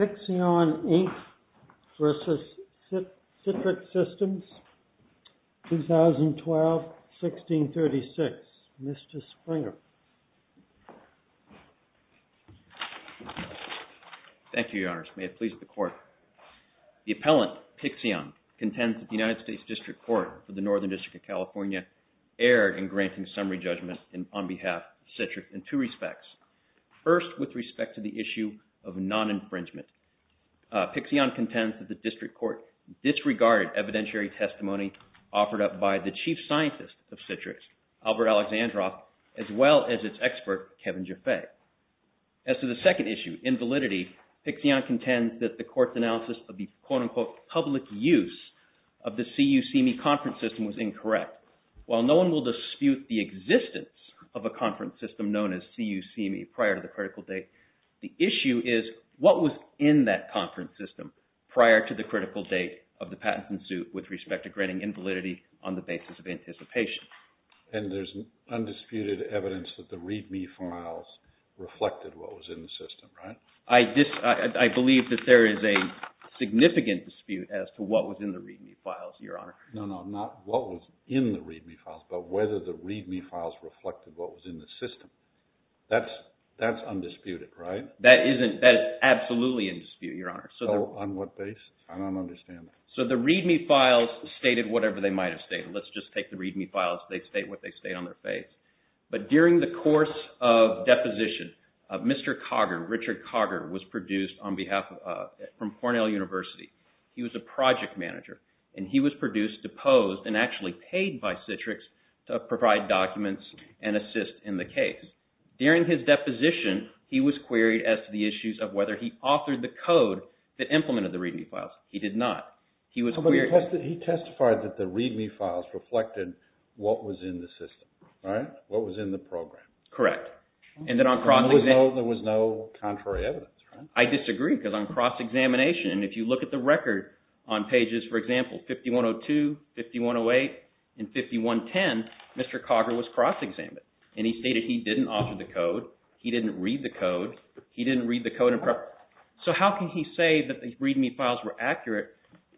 2012-1636. Mr. Springer. Thank you, Your Honors. May it please the Court. The appellant, PIXION, contends that the United States District Court for the Northern District of California erred in granting summary judgment on behalf of CITRIX in two respects. First, with respect to the issue of non-infringement. PIXION contends that the District Court disregarded evidentiary testimony offered up by the Chief Scientist of CITRIX, Albert Alexandrov, as well as its expert, Kevin Jaffe. As to the second issue, invalidity, PIXION contends that the Court's analysis of the quote-unquote public use of the CUCME conference system was incorrect. While no one will dispute the existence of a conference system known as CUCME prior to the critical date, the issue is what was in that conference system prior to the critical date of the patent suit with respect to granting invalidity on the basis of anticipation. And there's undisputed evidence that the README files reflected what was in the system, right? I believe that there is a significant dispute as to what was in the README files, Your Honor. No, no, not what was in the README files, but whether the README files reflected what was in the system. That's undisputed, right? That is absolutely in dispute, Your Honor. So on what basis? I don't understand that. So the README files stated whatever they might have stated. Let's just take the README files. They state what they state on their face. But during the course of deposition, Mr. Cogger, Richard Cogger, was produced on behalf of, from Cornell University. He was a project manager, and he was produced, deposed, and actually paid by Citrix to provide documents and assist in the case. During his deposition, he was queried as to the issues of whether he authored the code that implemented the README files. He did not. He testified that the README files reflected what was in the system, right? What was in the program. Correct. And there was no contrary evidence, right? I disagree, because on cross-examination, if you look at the record on pages, for example, 5102, 5108, and 5110, Mr. Cogger was cross-examined. And he stated he didn't author the code, he didn't read the code, he didn't read the code in preparation. So how can he say that the README files were accurate?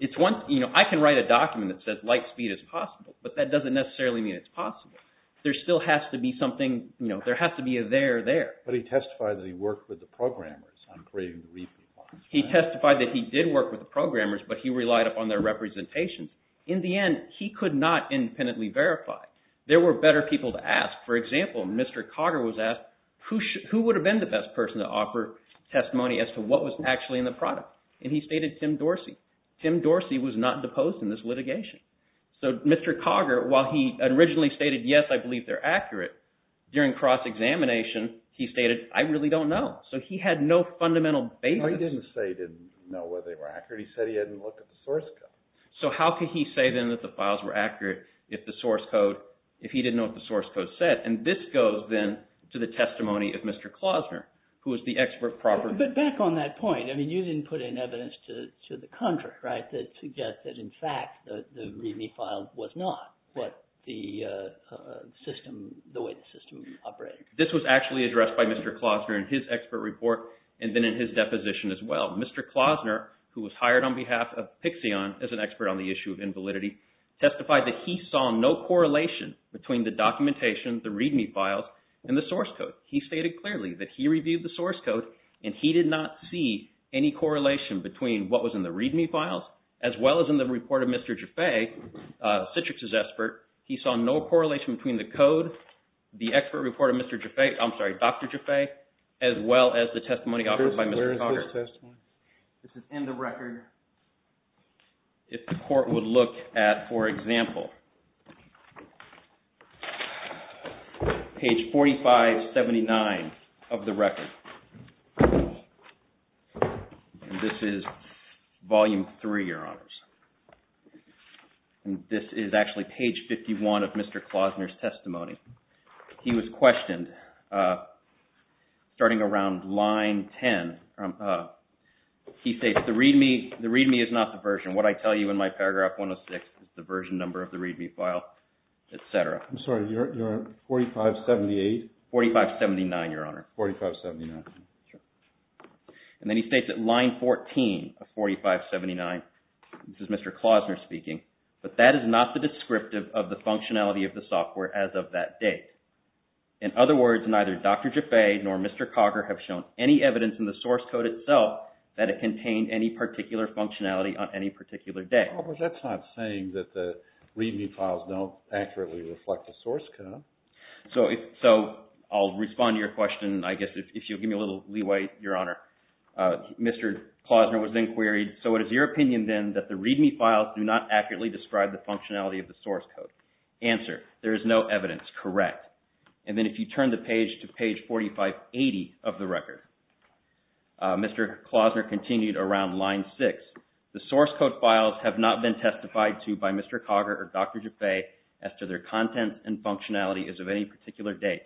It's one, you know, I can write a document that says light speed is possible, but that doesn't necessarily mean it's possible. There still has to be something, you know, there has to be a there there. But he testified that he worked with the programmers on creating the README files. He testified that he did work with the programmers, but he relied upon their representation. In the end, he could not independently verify. There were better people to ask. For example, Mr. Cogger was asked, who would have been the best person to offer testimony as to what was actually in the product? And he stated Tim Dorsey. Tim Dorsey was not deposed in this litigation. So Mr. Cogger, while he originally stated, yes, I believe they're accurate, during cross-examination, he stated, I really don't know. So he had no fundamental basis. No, he didn't say he didn't know whether they were accurate. He said he hadn't looked at the source code. So how could he say, then, that the files were accurate if the source code, if he didn't know what the source code said? And this goes, then, to the testimony of Mr. Klausner, who is the expert proper. But back on that point, I mean, you didn't put in evidence to the contrary, right, to get that, in fact, the README file was not what the system, the way the system operated. This was actually addressed by Mr. Klausner in his expert report and then in his deposition as well. Mr. Klausner, who was hired on behalf of Pixeon as an expert on the issue of invalidity, testified that he saw no correlation between the documentation, the README files, and the source code. He stated clearly that he reviewed the source code and he did not see any correlation between what was in the README files as well as in the report of Mr. Jaffe, Citrix's expert. He saw no correlation between the code, the expert report of Mr. Jaffe, I'm sorry, Dr. Jaffe, as well as the testimony offered by Mr. Cogger. This is in the record. If the court would look at, for example, page 4579 of the record, and this is volume three, Your Honors, and this is actually page 51 of Mr. Klausner's testimony. He was questioned starting around line 10. He states the README is not the version. What I tell you in my paragraph 106 is the version number of the README file, et cetera. I'm sorry, Your Honor, 4578? 4579, Your Honor. 4579. Then he states that line 14 of 4579, this is Mr. Klausner speaking, but that is not the descriptive of the functionality of the software as of that date. In other words, neither Dr. Jaffe nor Mr. Cogger have shown any evidence in the source code itself that it contained any particular functionality on any particular day. That's not saying that the README files don't accurately reflect the source code. So I'll respond to your question, I guess, if you'll give me a little leeway, Your Honor. Mr. Klausner was then queried, so what is your opinion then that the README files do not accurately describe the functionality of the source code? Answer, there is no evidence. Correct. And then if you turn the page to page 4580 of the record, Mr. Klausner continued around line 6. The source code files have not been testified to by Mr. Cogger or Dr. Jaffe as to their content and functionality as of any particular date.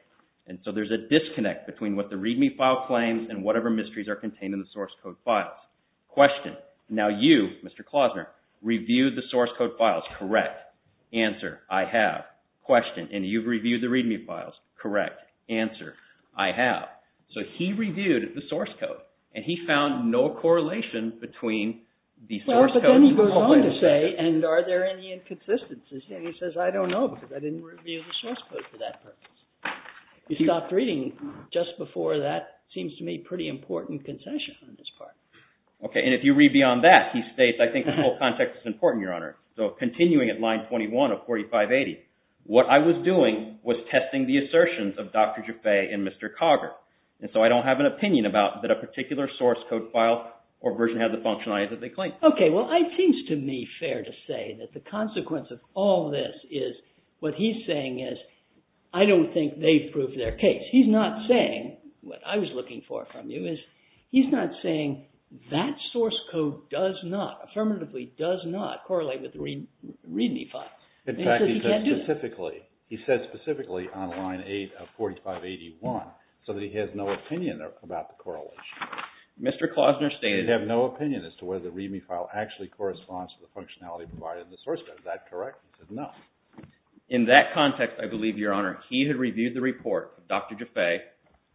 And so there's a disconnect between what the README file claims and whatever mysteries are contained in the source code files. Question, now you, Mr. Klausner, reviewed the source code files. Correct. Answer, I have. Question, and you've reviewed the README files. Correct. Answer, I have. So he reviewed the source code, and he found no correlation between the source code and the file. Well, but then he goes on to say, and are there any inconsistencies? And he says, I don't know because I didn't review the source code for that purpose. He stopped reading just before that. It seems to me a pretty important concession on this part. Okay, and if you read beyond that, he states, I think the whole context is important, Your Honor. So continuing at line 21 of 4580, what I was doing was testing the assertions of Dr. Jaffe and Mr. Cogger. And so I don't have an opinion about that a particular source code file or version has the functionality that they claim. Okay, well, it seems to me fair to say that the consequence of all this is, what he's saying is, I don't think they've proved their case. He's not saying, what I was looking for from you is, he's not saying that source code does not, affirmatively does not correlate with the README file. In fact, he said specifically, he said specifically on line 8 of 4581, so that he has no opinion about the correlation. Mr. Klausner stated. He has no opinion as to whether the README file actually corresponds to the functionality provided in the source code. Is that correct? He said no. In that context, I believe, Your Honor, he had reviewed the report of Dr. Jaffe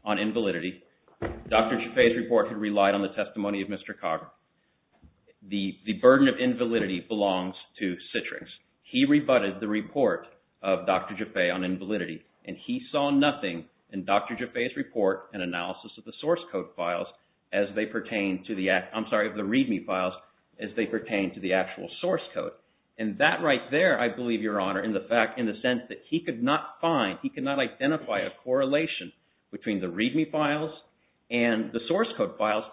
on invalidity. Dr. Jaffe's report had relied on the testimony of Mr. Cogger. The burden of invalidity belongs to Citrix. He rebutted the report of Dr. Jaffe on invalidity, and he saw nothing in Dr. Jaffe's report and analysis of the source code files as they pertain to the, I'm sorry, of the README files as they pertain to the actual source code. And that right there, I believe, Your Honor, in the fact, in the sense that he could not find, he could not identify a correlation between the README files and the source code files,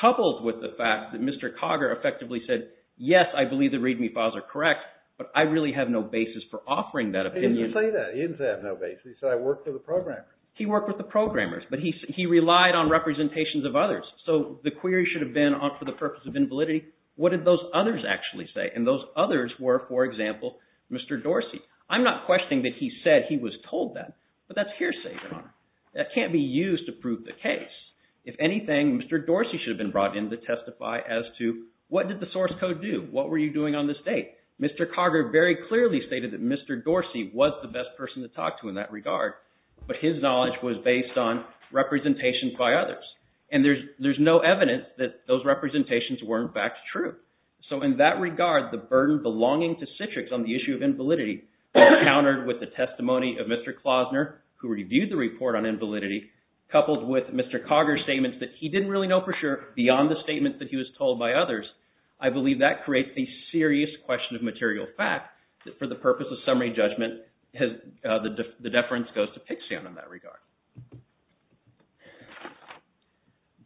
coupled with the fact that Mr. Cogger effectively said, yes, I believe the README files are correct, but I really have no basis for offering that opinion. He didn't say that. He didn't say I have no basis. He said I worked with the programmers. He worked with the programmers, but he relied on representations of others. So the query should have been for the purpose of invalidity. What did those others actually say? And those others were, for example, Mr. Dorsey. I'm not questioning that he said he was told that, but that's hearsay, Your Honor. That can't be used to prove the case. If anything, Mr. Dorsey should have been brought in to testify as to what did the source code do? What were you doing on this date? Mr. Cogger very clearly stated that Mr. Dorsey was the best person to talk to in that regard, but his knowledge was based on representations by others. And there's no evidence that those representations were, in fact, true. So in that regard, the burden belonging to Citrix on the issue of invalidity countered with the testimony of Mr. Klosner, who reviewed the report on invalidity, coupled with Mr. Cogger's statements that he didn't really know for sure, beyond the statements that he was told by others, I believe that creates a serious question of material fact that for the purpose of summary judgment, the deference goes to Pixian in that regard.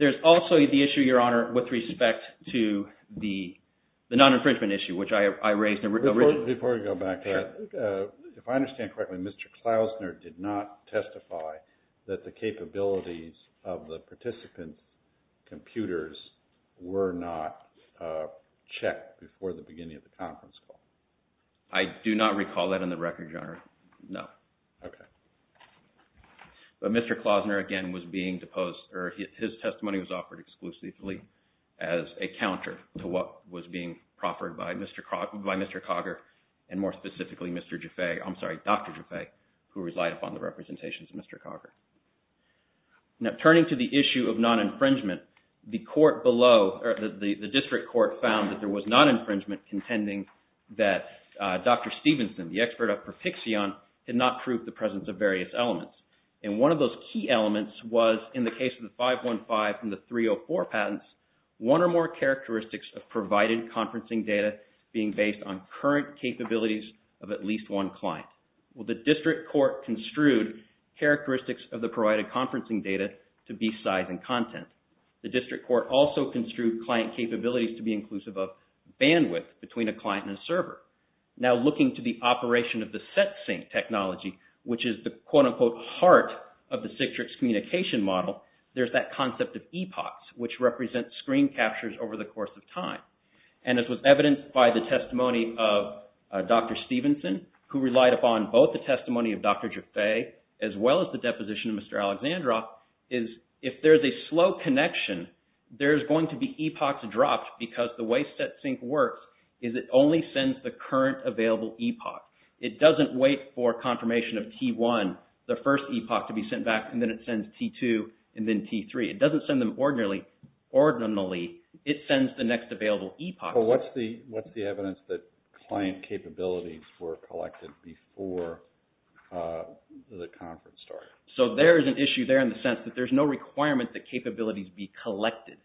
There's also the issue, Your Honor, with respect to the non-infringement issue, which I raised originally. Before we go back to that, if I understand correctly, Mr. Klosner did not testify that the capabilities of the participant computers were not checked before the beginning of the conference call? I do not recall that in the record, Your Honor, no. Okay. But Mr. Klosner, again, was being deposed, or his testimony was offered exclusively as a counter to what was being proffered by Mr. Cogger, and more specifically, Dr. Jaffe, who relied upon the representations of Mr. Cogger. Now, turning to the issue of non-infringement, the district court found that there was non-infringement contending that Dr. Stevenson, the expert at Perfixion, had not proved the presence of various elements. And one of those key elements was in the case of the 515 and the 304 patents, one or more characteristics of provided conferencing data being based on current capabilities of at least one client. Well, the district court construed characteristics of the provided conferencing data to be size and content. The district court also construed client capabilities to be inclusive of bandwidth between a client and a server. Now, looking to the operation of the SetSync technology, which is the quote-unquote heart of the Citrix communication model, there's that concept of epochs, which represent screen captures over the course of time. And as was evidenced by the testimony of Dr. Stevenson, who relied upon both the testimony of Dr. Jaffe, as well as the deposition of Mr. Alexandrov, is if there's a slow connection, there's going to be epochs dropped, because the way SetSync works is it only sends the current available epoch. It doesn't wait for confirmation of T1, the first epoch, to be sent back, and then it sends T2, and then T3. It doesn't send them ordinarily. It sends the next available epoch. So what's the evidence that client capabilities were collected before the conference started? So there is an issue there in the sense that there's no requirement that capabilities be collected.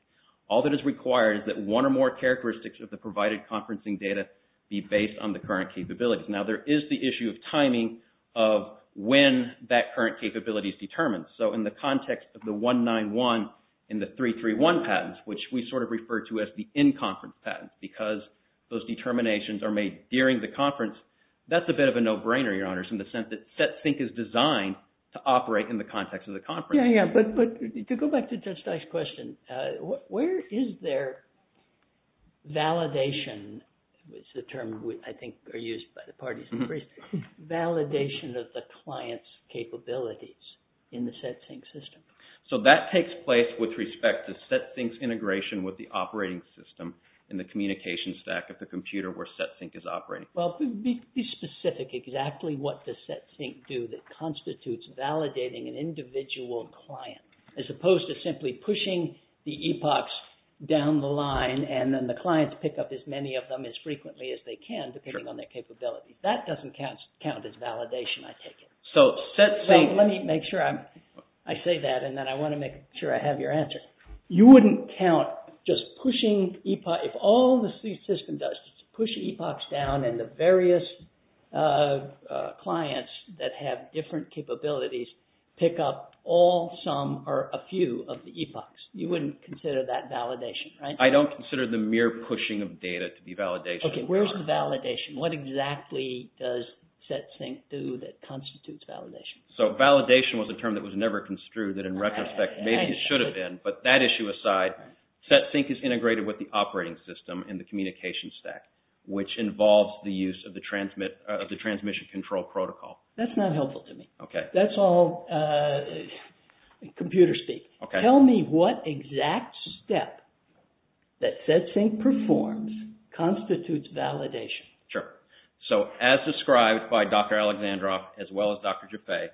All that is required is that one or more characteristics of the provided conferencing data be based on the current capabilities. Now there is the issue of timing of when that current capability is determined. So in the context of the 191 and the 331 patents, which we sort of refer to as the in-conference patents, because those determinations are made during the conference, that's a bit of a no-brainer, Your Honors, in the sense that SetSync is designed to operate in the context of the conference. Yeah, yeah, but to go back to Judge Steyer's question, where is there validation, which is a term I think used by the parties, validation of the client's capabilities in the SetSync system? So that takes place with respect to SetSync's integration with the operating system in the communications stack of the computer where SetSync is operating. Well, be specific exactly what does SetSync do that constitutes validating an individual client, as opposed to simply pushing the epochs down the line and then the clients pick up as many of them as frequently as they can depending on their capabilities. That doesn't count as validation, I take it. So SetSync... Let me make sure I say that, and then I want to make sure I have your answer. You wouldn't count just pushing epochs, if all the system does is push epochs down and the various clients that have different capabilities pick up all some or a few of the epochs. You wouldn't consider that validation, right? I don't consider the mere pushing of data to be validation. Okay, where's the validation? What exactly does SetSync do that constitutes validation? So validation was a term that was never construed, that in retrospect maybe it should have been, but that issue aside, SetSync is integrated with the operating system in the communications stack, which involves the use of the transmission control protocol. That's not helpful to me. Okay. That's all computer speak. Tell me what exact step that SetSync performs constitutes validation. Sure. So as described by Dr. Alexandrov as well as Dr. Jaffe,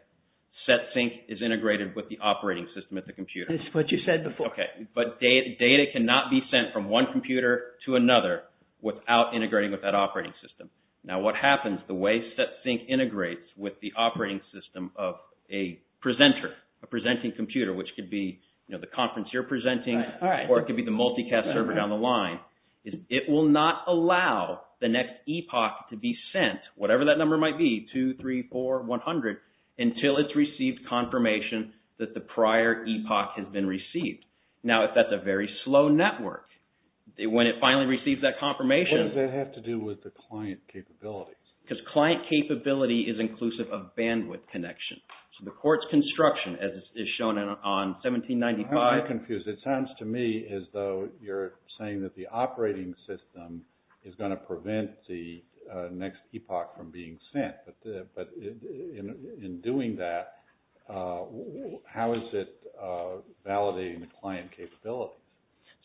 SetSync is integrated with the operating system at the computer. That's what you said before. Okay, but data cannot be sent from one computer to another without integrating with that operating system. Now what happens, the way SetSync integrates with the operating system of a presenter, a presenting computer, which could be the conference you're presenting or it could be the multicast server down the line, is it will not allow the next epoch to be sent, whatever that number might be, two, three, four, 100, until it's received confirmation that the prior epoch has been received. Now if that's a very slow network, when it finally receives that confirmation- What does that have to do with the client capabilities? Because client capability is inclusive of bandwidth connection. So the court's construction as is shown on 1795- I'm confused. It sounds to me as though you're saying that the operating system is going to prevent the next epoch from being sent. But in doing that, how is it validating the client capability?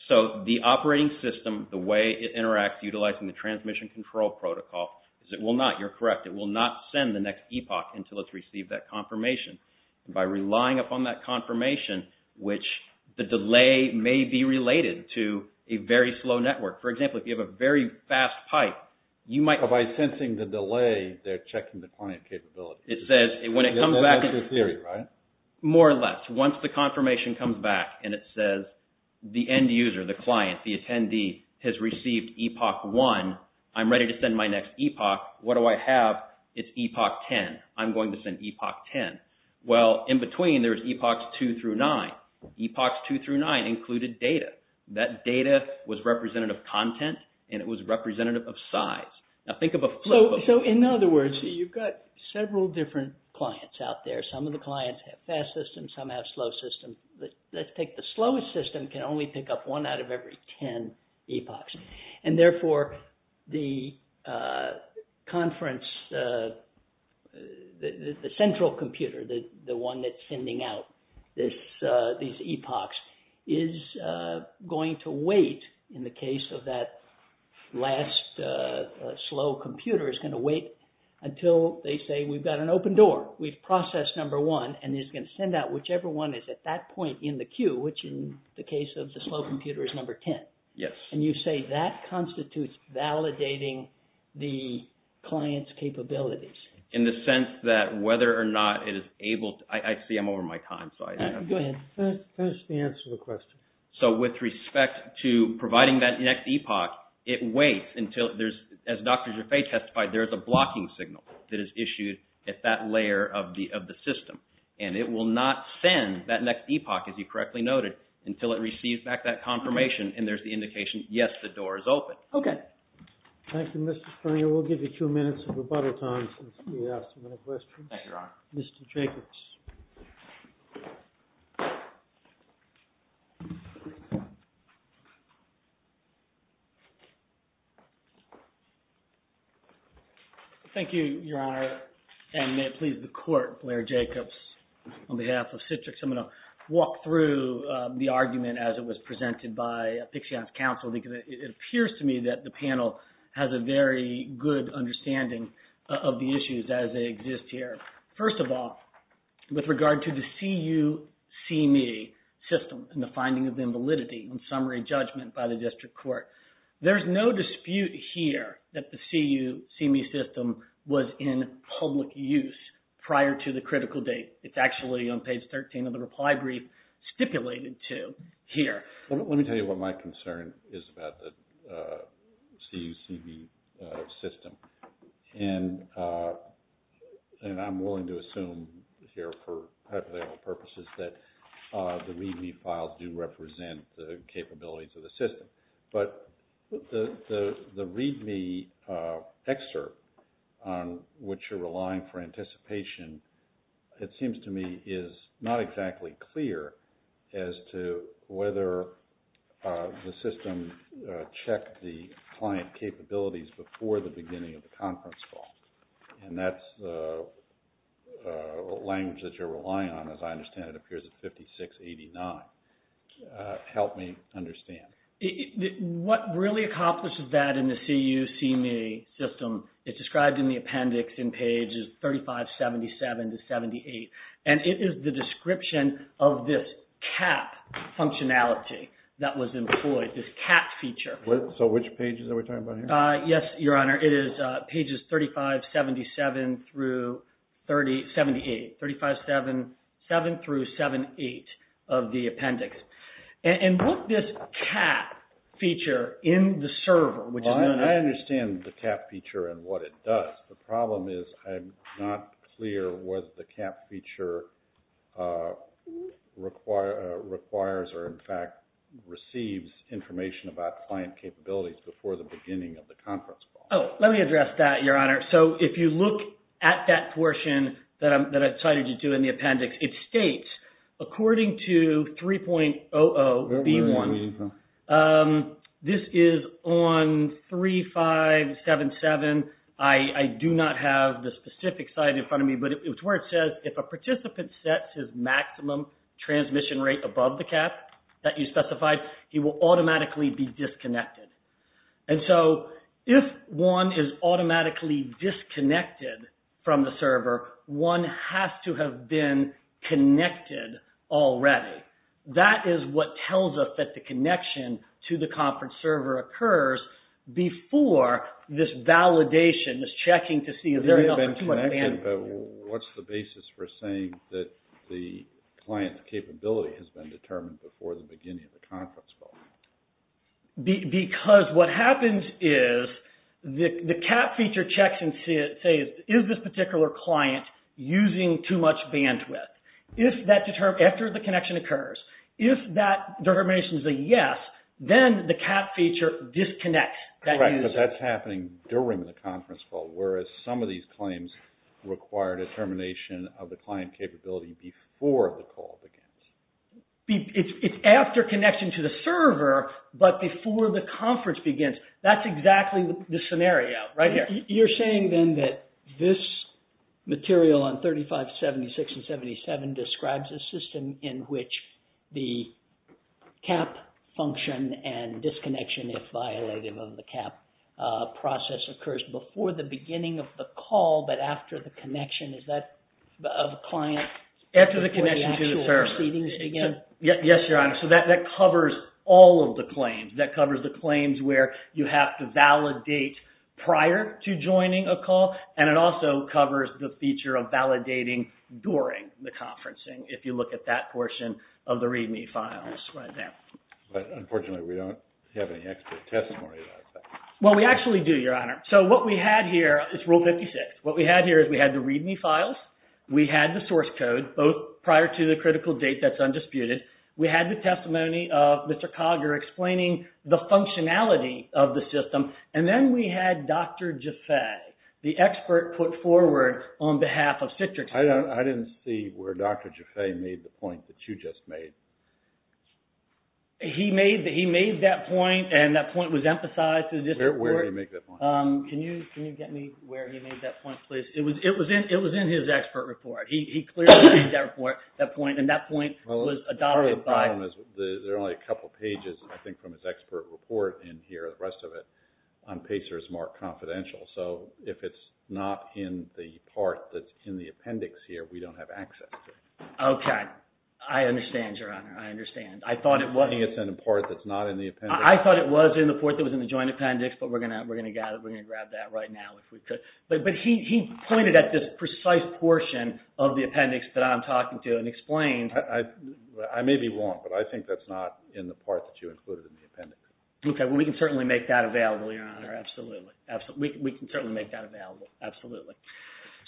So the operating system, the way it interacts utilizing the transmission control protocol, is it will not, you're correct, it will not send the next epoch until it's received that confirmation. By relying upon that confirmation, which the delay may be related to a very slow network. For example, if you have a very fast pipe, you might- By sensing the delay, they're checking the client capability. It says when it comes back- That's your theory, right? More or less. Once the confirmation comes back and it says the end user, the client, the attendee has received epoch 1, I'm ready to send my next epoch. What do I have? It's epoch 10. I'm going to send epoch 10. Well, in between, there's epochs 2 through 9. Epochs 2 through 9 included data. That data was representative of content and it was representative of size. Now think of a flow- So in other words, you've got several different clients out there. Some of the clients have fast systems, some have slow systems. Let's take the slowest system can only pick up one out of every 10 epochs. Therefore, the conference, the central computer, the one that's sending out these epochs, is going to wait, in the case of that last slow computer, is going to wait until they say, we've got an open door. We've processed number 1, and it's going to send out whichever one is at that point in the queue, which in the case of the slow computer, is number 10. Yes. And you say that constitutes validating the client's capabilities. In the sense that whether or not it is able to- I see I'm over my time, so I- Go ahead. That's the answer to the question. So with respect to providing that next epoch, it waits until there's- as Dr. Jaffe testified, there's a blocking signal that is issued at that layer of the system. And it will not send that next epoch, as you correctly noted, until it receives back that confirmation, and there's the indication, yes, the door is open. Okay. Thank you, Mr. Stern. We'll give you two minutes of rebuttal time since we asked a lot of questions. Thank you, Your Honor. Mr. Jacobs. Thank you, Your Honor. And may it please the Court, Blair Jacobs on behalf of Citrix. I'm going to walk through the argument as it was presented by Pixion's counsel because it appears to me that the panel has a very good understanding of the issues as they exist here. First of all, with regard to the CU-CME system and the finding of invalidity and summary judgment by the district court, there's no dispute here that the CU-CME system was in public use prior to the critical date. It's actually on page 13 of the reply brief stipulated to here. Let me tell you what my concern is about the CU-CME system. And I'm willing to assume here for hypothetical purposes that the README files do represent the capabilities of the system. But the README excerpt on which you're relying for anticipation, it seems to me, is not exactly clear as to whether the system checked the client capabilities before the beginning of the conference call. And that's the language that you're relying on, as I understand it, appears at 5689. Help me understand. What really accomplishes that in the CU-CME system is described in the appendix in pages 3577-78. And it is the description of this CAP functionality that was employed, this CAP feature. So which pages are we talking about here? Yes, Your Honor. It is pages 3577-78 3577-78 of the appendix. And what this CAP feature in the server, I understand the CAP feature and what it does. The problem is I'm not clear what the CAP feature requires or in fact receives information about client capabilities before the beginning of the conference call. Oh, let me address that, Your Honor. So if you look at that portion that I cited you to in the appendix, it states according to 3.00B1, this is on 3577. I do not have the specific site in front of me, but it's where it says if a participant sets his maximum transmission rate above the CAP that you specified, he will automatically be disconnected. And so if one is automatically disconnected from the server, one has to have been connected already. That is what tells us that the connection to the conference server occurs before this validation, this checking to see if there is enough bandwidth. What's the basis for saying that the client's capability has been determined before the beginning of the conference call? Because what happens is the CAP feature checks and says is this particular client using too much bandwidth? After the connection occurs, if that determination is a yes, then the CAP feature disconnects. Correct, but that's happening during the conference call, whereas some of these claims require determination of the client capability before the call begins. It's after connection to the server, but before the conference begins. That's exactly the scenario right here. You're saying then that this material on 3576 and 377 describes a system in which the CAP function and disconnection if violative of the CAP process occurs before the beginning of the call, but after the connection. Is that of a client before the actual proceedings begin? Yes, Your Honor. So that covers all of the claims. That covers the claims where you have to validate prior to joining a call, and it also covers the feature of validating during the conferencing, if you look at that portion of the README files right there. But unfortunately, we don't have any extra testimony about that. Well, we actually do, Your Honor. So what we had here is Rule 56. What we had here is we had the README files. We had the source code, both prior to the critical date that's undisputed. We had the testimony of Mr. Cogger explaining the functionality of the system, and then we had Dr. Jaffe, the expert put forward on behalf of Citrix. I didn't see where Dr. Jaffe made the point that you just made. He made that point, and that point was emphasized in this report. Where did he make that point? Can you get me where he made that point, please? It was in his expert report. He clearly made that report, that point, and that point was adopted by... Well, part of the problem is there are only a couple pages, I think, from his expert report and here are the rest of it. On PACER, it's more confidential. So if it's not in the part that's in the appendix here, we don't have access to it. Okay. I understand, Your Honor. I understand. I thought it was... I think it's in the part that's not in the appendix. I thought it was in the part that was in the joint appendix, but we're going to grab that right now if we could. But he pointed at this precise portion of the appendix that I'm talking to and explained... I may be wrong, but I think that's not in the part that you included in the appendix. Okay. Well, we can certainly make that available, Your Honor. Absolutely. We can certainly make that available. Absolutely.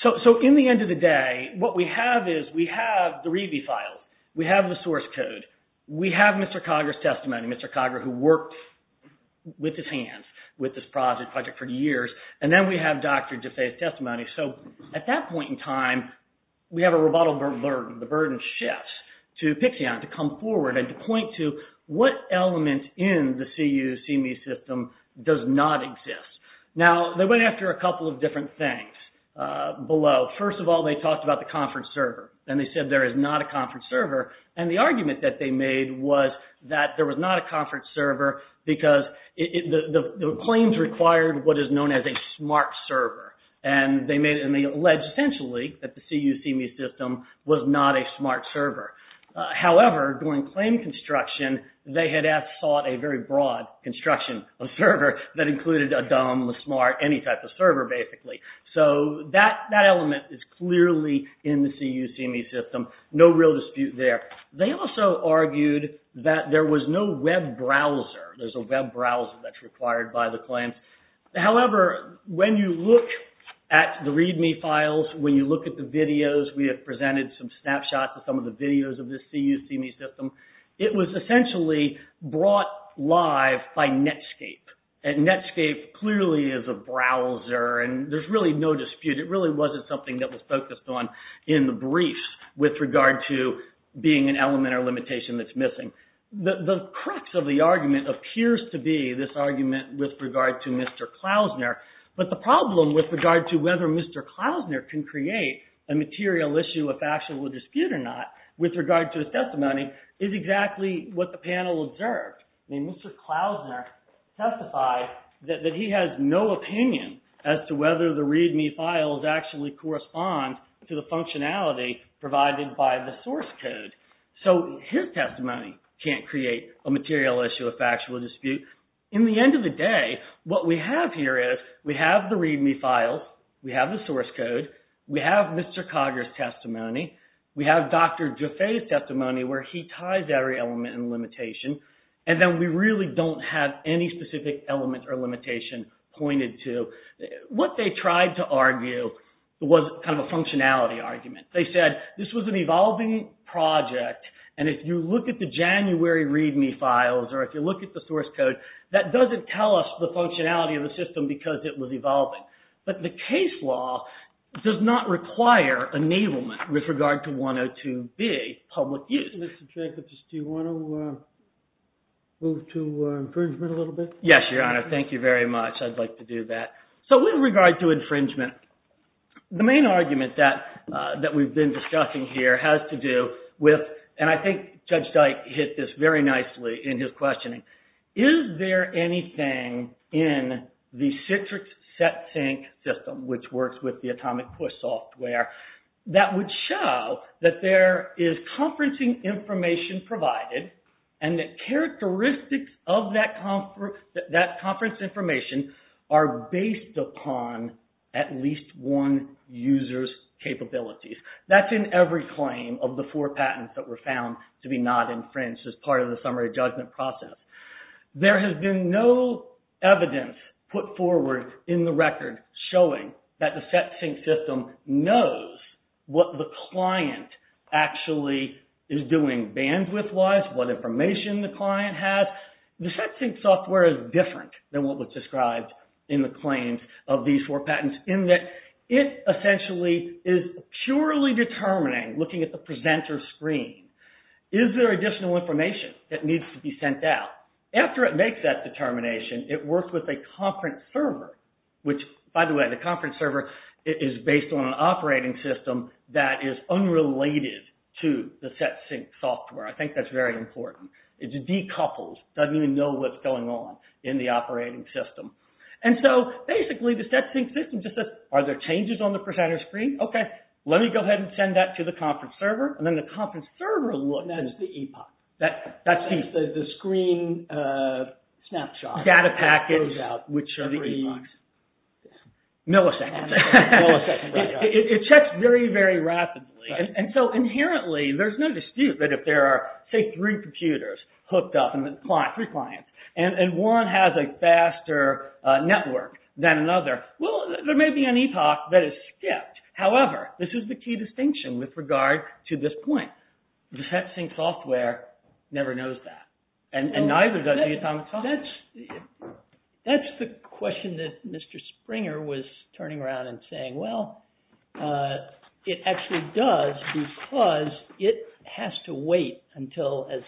So in the end of the day, what we have is we have the REBI file, we have the source code, we have Mr. Cogger's testimony, Mr. Cogger who worked with his hands with this project for years, and then we have Dr. Desai's testimony. So at that point in time, we have a rebuttal burden. The burden shifts to Pixion to come forward and to point to what element in the C-You, C-Me system does not exist. Now, they went after a couple of different things below. First of all, they talked about the conference server and they said there is not a conference server and the argument that they made was that there was not a conference server because the claims required what is known as a smart server and they made... and they alleged essentially that the C-You, C-Me system was not a smart server. However, during claim construction, they had sought a very broad construction of server that included a dumb, a smart, any type of server basically. So that element is clearly in the C-You, C-Me system. No real dispute there. They also argued that there was no web browser. There's a web browser that's required by the claims. However, when you look at the README files, when you look at the videos, we have presented some snapshots of some of the videos of the C-You, C-Me system. It was essentially brought live by Netscape. And Netscape clearly is a browser and there's really no dispute. It really wasn't something that was focused on in the brief with regard to being an element or limitation that's missing. The crux of the argument appears to be this argument with regard to Mr. Klausner, but the problem with regard to whether Mr. Klausner can create a material issue of actual dispute or not with regard to his testimony is exactly what the panel observed. Mr. Klausner testified that he has no opinion as to whether the README files actually correspond to the functionality provided by the source code. So his testimony can't create a material issue of factual dispute. In the end of the day, what we have here is we have the README files, we have the source code, we have Mr. Cogger's testimony, we have Dr. Dufay's testimony where he ties every element and limitation, and then we really don't have any specific element or limitation pointed to. What they tried to argue was kind of a functionality argument. They said this was an evolving project and if you look at the January README files or if you look at the source code, that doesn't tell us the functionality of the system because it was evolving. But the case law does not require enablement with regard to 102B public use. Mr. Jenkins, do you want to move to infringement a little bit? Yes, Your Honor. Thank you very much. I'd like to do that. So with regard to infringement, the main argument that we've been discussing here has to do with, and I think Judge Dyke hit this very nicely in his questioning, is there anything in the Citrix SetSync system which works with the Atomic Push software that would show that there is conferencing information provided and the characteristics of that conference information are based upon at least one user's capabilities. That's in every claim of the four patents that were found to be not infringed as part of the summary judgment process. There has been no evidence put forward in the record showing that the SetSync system knows what the client actually is doing bandwidth-wise, what information the client has. The SetSync software is different than what was described in the claims of these four patents in that it essentially is purely determining, looking at the presenter's screen, is there additional information that needs to be sent out. After it makes that determination, it works with a conference server, which, by the way, the conference server is based on an operating system that is unrelated to the SetSync software. I think that's very important. It decouples, doesn't even know what's going on in the operating system. And so, basically, the SetSync system just says, are there changes on the presenter's screen? Okay, let me go ahead and send that to the conference server, and then the conference server will look. That's the epoch. That's the screen snapshot. Data package. Which are the epochs. Milliseconds. It checks very, very rapidly. And so, inherently, there's no dispute that if there are, say, three computers hooked up, three clients, and one has a faster network than another, well, there may be an epoch that is skipped. However, this is the key distinction with regard to this point. The SetSync software never knows that, and neither does the atomic clock. That's the question that Mr. Springer was turning around and saying, well, it actually does because it has to wait until, as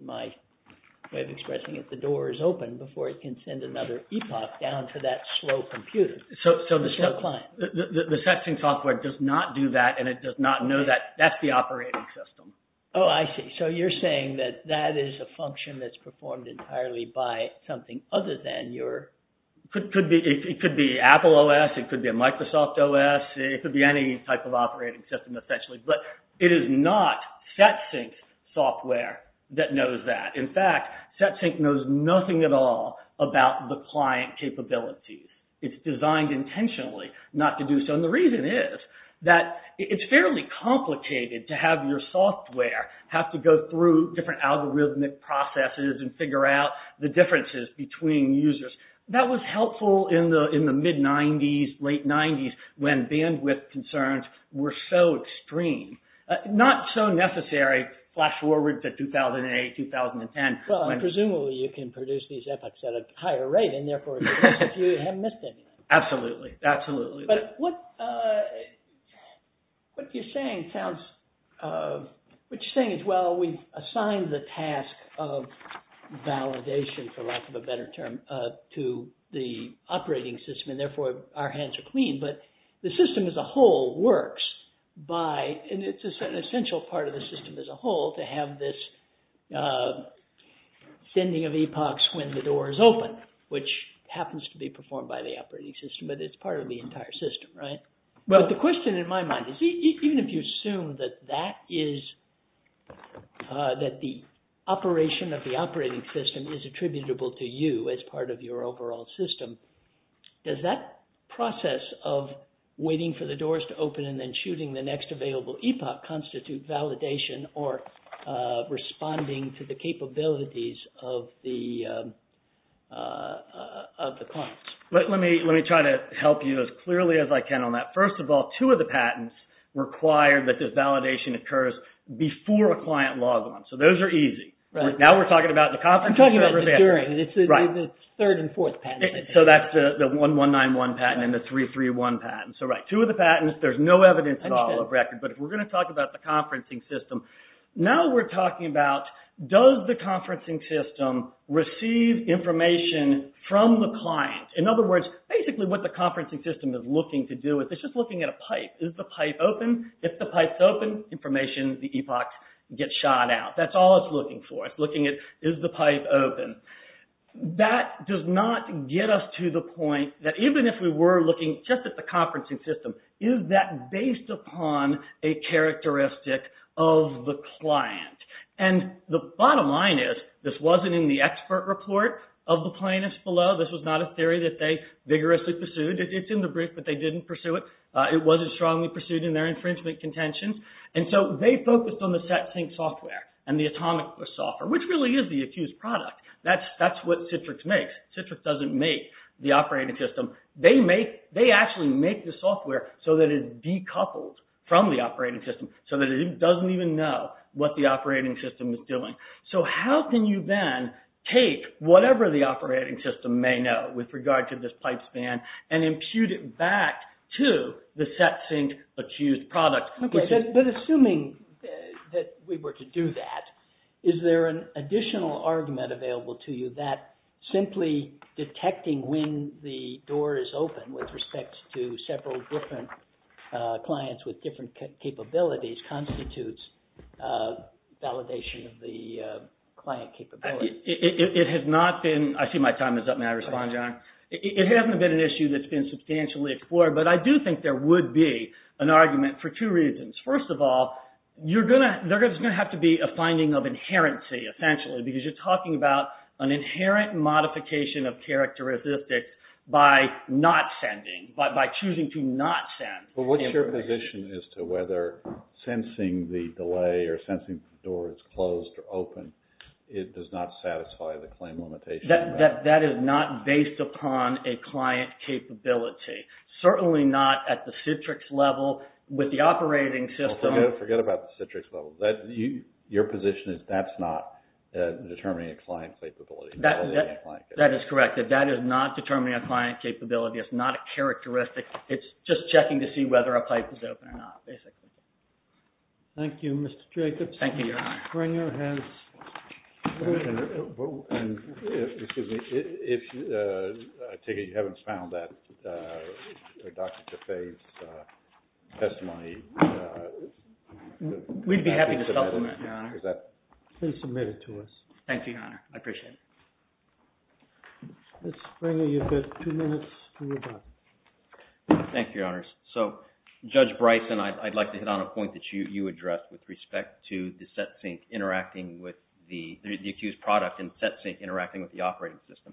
my way of expressing it, the door is open before it can send another epoch down to that slow computer, the slow client. The SetSync software does not do that, and it does not know that. That's the operating system. Oh, I see. So, you're saying that that is a function that's performed entirely by something other than your... It could be Apple OS. It could be a Microsoft OS. It could be any type of operating system, essentially, but it is not SetSync software that knows that. In fact, SetSync knows nothing at all about the client capabilities. It's designed intentionally not to do so, and the reason is that it's fairly complicated to have your software have to go through different algorithmic processes and figure out the differences between users. That was helpful in the mid-'90s, late-'90s, when bandwidth concerns were so extreme. Not so necessary, flash forward to 2008, 2010. Well, presumably, you can produce these epochs at a higher rate, and therefore, you haven't missed anything. Absolutely. Absolutely. But what you're saying sounds... What you're saying is, well, we've assigned the task of validation, for lack of a better term, to the operating system, and therefore, our hands are clean, but the system as a whole works by... And it's an essential part of the system as a whole to have this sending of epochs when the door is open, which happens to be performed by the operating system, but it's part of the entire system, right? But the question in my mind is, even if you assume that that is... That the operation of the operating system is attributable to you as part of your overall system, does that process of waiting for the doors to open and then shooting the next available epoch constitute validation or responding to the capabilities of the clients? Let me try to help you as clearly as I can on that. First of all, two of the patents require that this validation occurs before a client logs on, so those are easy. Right. Now we're talking about the conferencing... I'm talking about the during. Right. It's the third and fourth patents. So that's the 1191 patent and the 331 patent. So right, two of the patents, there's no evidence at all of record, but if we're going to talk about the conferencing system, now we're talking about does the conferencing system receive information from the client? In other words, basically what the conferencing system is looking to do is it's just looking at a pipe. Is the pipe open? If the pipe's open, information, the epochs get shot out. That's all it's looking for. It's looking at is the pipe open? That does not get us to the point that even if we were looking just at the conferencing system, is that based upon a characteristic of the client? And the bottom line is this wasn't in the expert report of the plaintiffs below. This was not a theory that they vigorously pursued. It's in the brief, but they didn't pursue it. It wasn't strongly pursued in their infringement contentions. And so they focused on the set sync software and the atomic software, which really is the accused product. That's what Citrix makes. Citrix doesn't make the operating system. They make, they actually make the software so that it's decoupled from the operating system so that it doesn't even know what the operating system is doing. So how can you then take whatever the operating system may know with regard to this pipe span and impute it back to the set sync accused product? Okay, but assuming that we were to do that, is there an additional argument available to you that simply detecting when the door is open with respect to several different clients with different capabilities constitutes validation of the client capability? It has not been... I see my time is up. May I respond, John? It hasn't been an issue that's been substantially explored, but I do think there would be an argument for two reasons. First of all, there's going to have to be a finding of inherency, essentially, because you're talking about an inherent modification of characteristics by not sending, by choosing to not send. But what's your position as to whether sensing the delay or sensing the door is closed or open, it does not satisfy the claim limitation? That is not based upon a client capability. Certainly not at the Citrix level with the operating system. Forget about the Citrix level. Your position is that's not determining a client capability. That is correct. That is not determining a client capability. It's not a characteristic. It's just checking to see whether a pipe is open or not, basically. Thank you, Mr. Jacobs. Thank you, Your Honor. Springer has... Excuse me. I take it you haven't found that Dr. Trafave's testimony. We'd be happy to supplement, Your Honor. Please submit it to us. Thank you, Your Honor. I appreciate it. Mr. Springer, you've got two minutes to rebut. Thank you, Your Honors. So, Judge Bryson, I'd like to hit on a point that you addressed with respect to the SetSync interacting with the... the accused product and SetSync interacting with the operating system.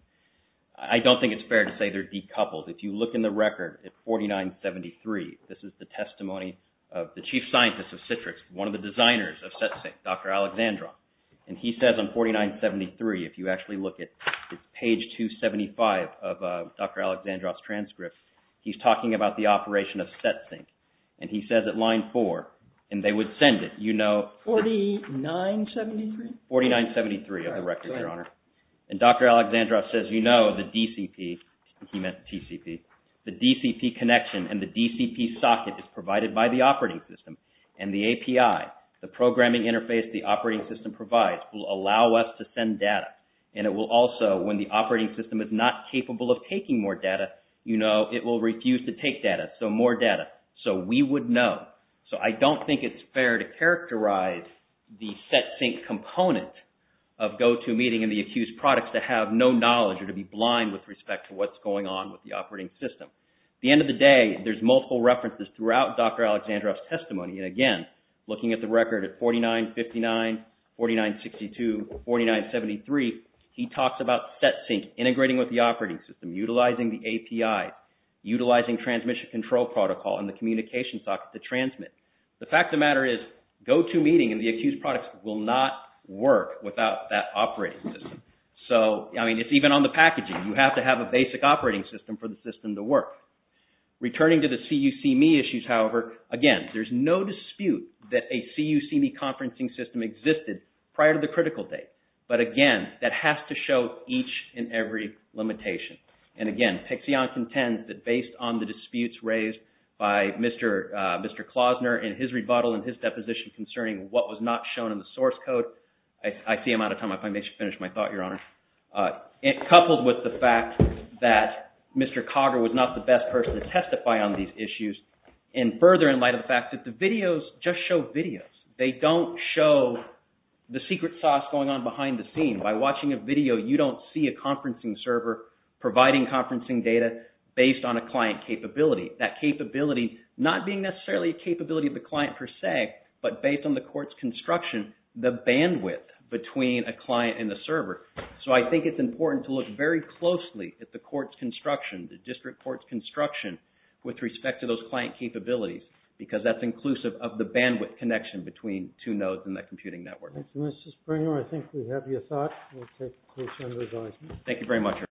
I don't think it's fair to say they're decoupled. If you look in the record at 4973, this is the testimony of the chief scientist of Citrix, one of the designers of SetSync, Dr. Alexandrov. And he says on 4973, if you actually look at page 275 of Dr. Alexandrov's transcript, he's talking about the operation of SetSync. And he says at line 4, and they would send it, you know... 4973? 4973 of the record, Your Honor. And Dr. Alexandrov says, you know, the DCP, he meant TCP, the DCP connection and the DCP socket is provided by the operating system. And the API, the programming interface the operating system provides, will allow us to send data. And it will also, when the operating system is not capable of taking more data, you know, it will refuse to take data. So, more data. So, we would know. So, I don't think it's fair to characterize the SetSync component of GoToMeeting and the accused products to have no knowledge or to be blind with respect to what's going on with the operating system. At the end of the day, there's multiple references throughout Dr. Alexandrov's testimony. And again, looking at the record at 4959, 4962, 4973, he talks about SetSync integrating with the operating system, utilizing the API, utilizing transmission control protocol and the communication socket to transmit. The fact of the matter is, GoToMeeting and the accused products will not work without that operating system. So, I mean, it's even on the packaging. You have to have a basic operating system for the system to work. Returning to the C-U-C-Me issues, however, again, there's no dispute that a C-U-C-Me conferencing system existed prior to the critical date. But again, that has to show each and every limitation. And again, Pixion contends that based on the disputes raised by Mr. Klausner and his rebuttal and his deposition concerning what was not shown in the source code, I see I'm out of time. If I may just finish my thought, Your Honor. Coupled with the fact that Mr. Cogger was not the best person to testify on these issues and further in light of the fact that the videos just show videos. They don't show the secret sauce going on behind the scene. By watching a video, you don't see a conferencing server providing conferencing data based on a client capability. That capability not being necessarily a capability of the client per se, but based on the court's construction and the bandwidth between a client and a server. So I think it's important to look very closely at the court's construction, the district court's construction, with respect to those client capabilities because that's inclusive of the bandwidth connection between two nodes in that computing network. Thank you, Mr. Springer. I think we have your thought. We'll take a close under advisement. Thank you very much, Your Honor.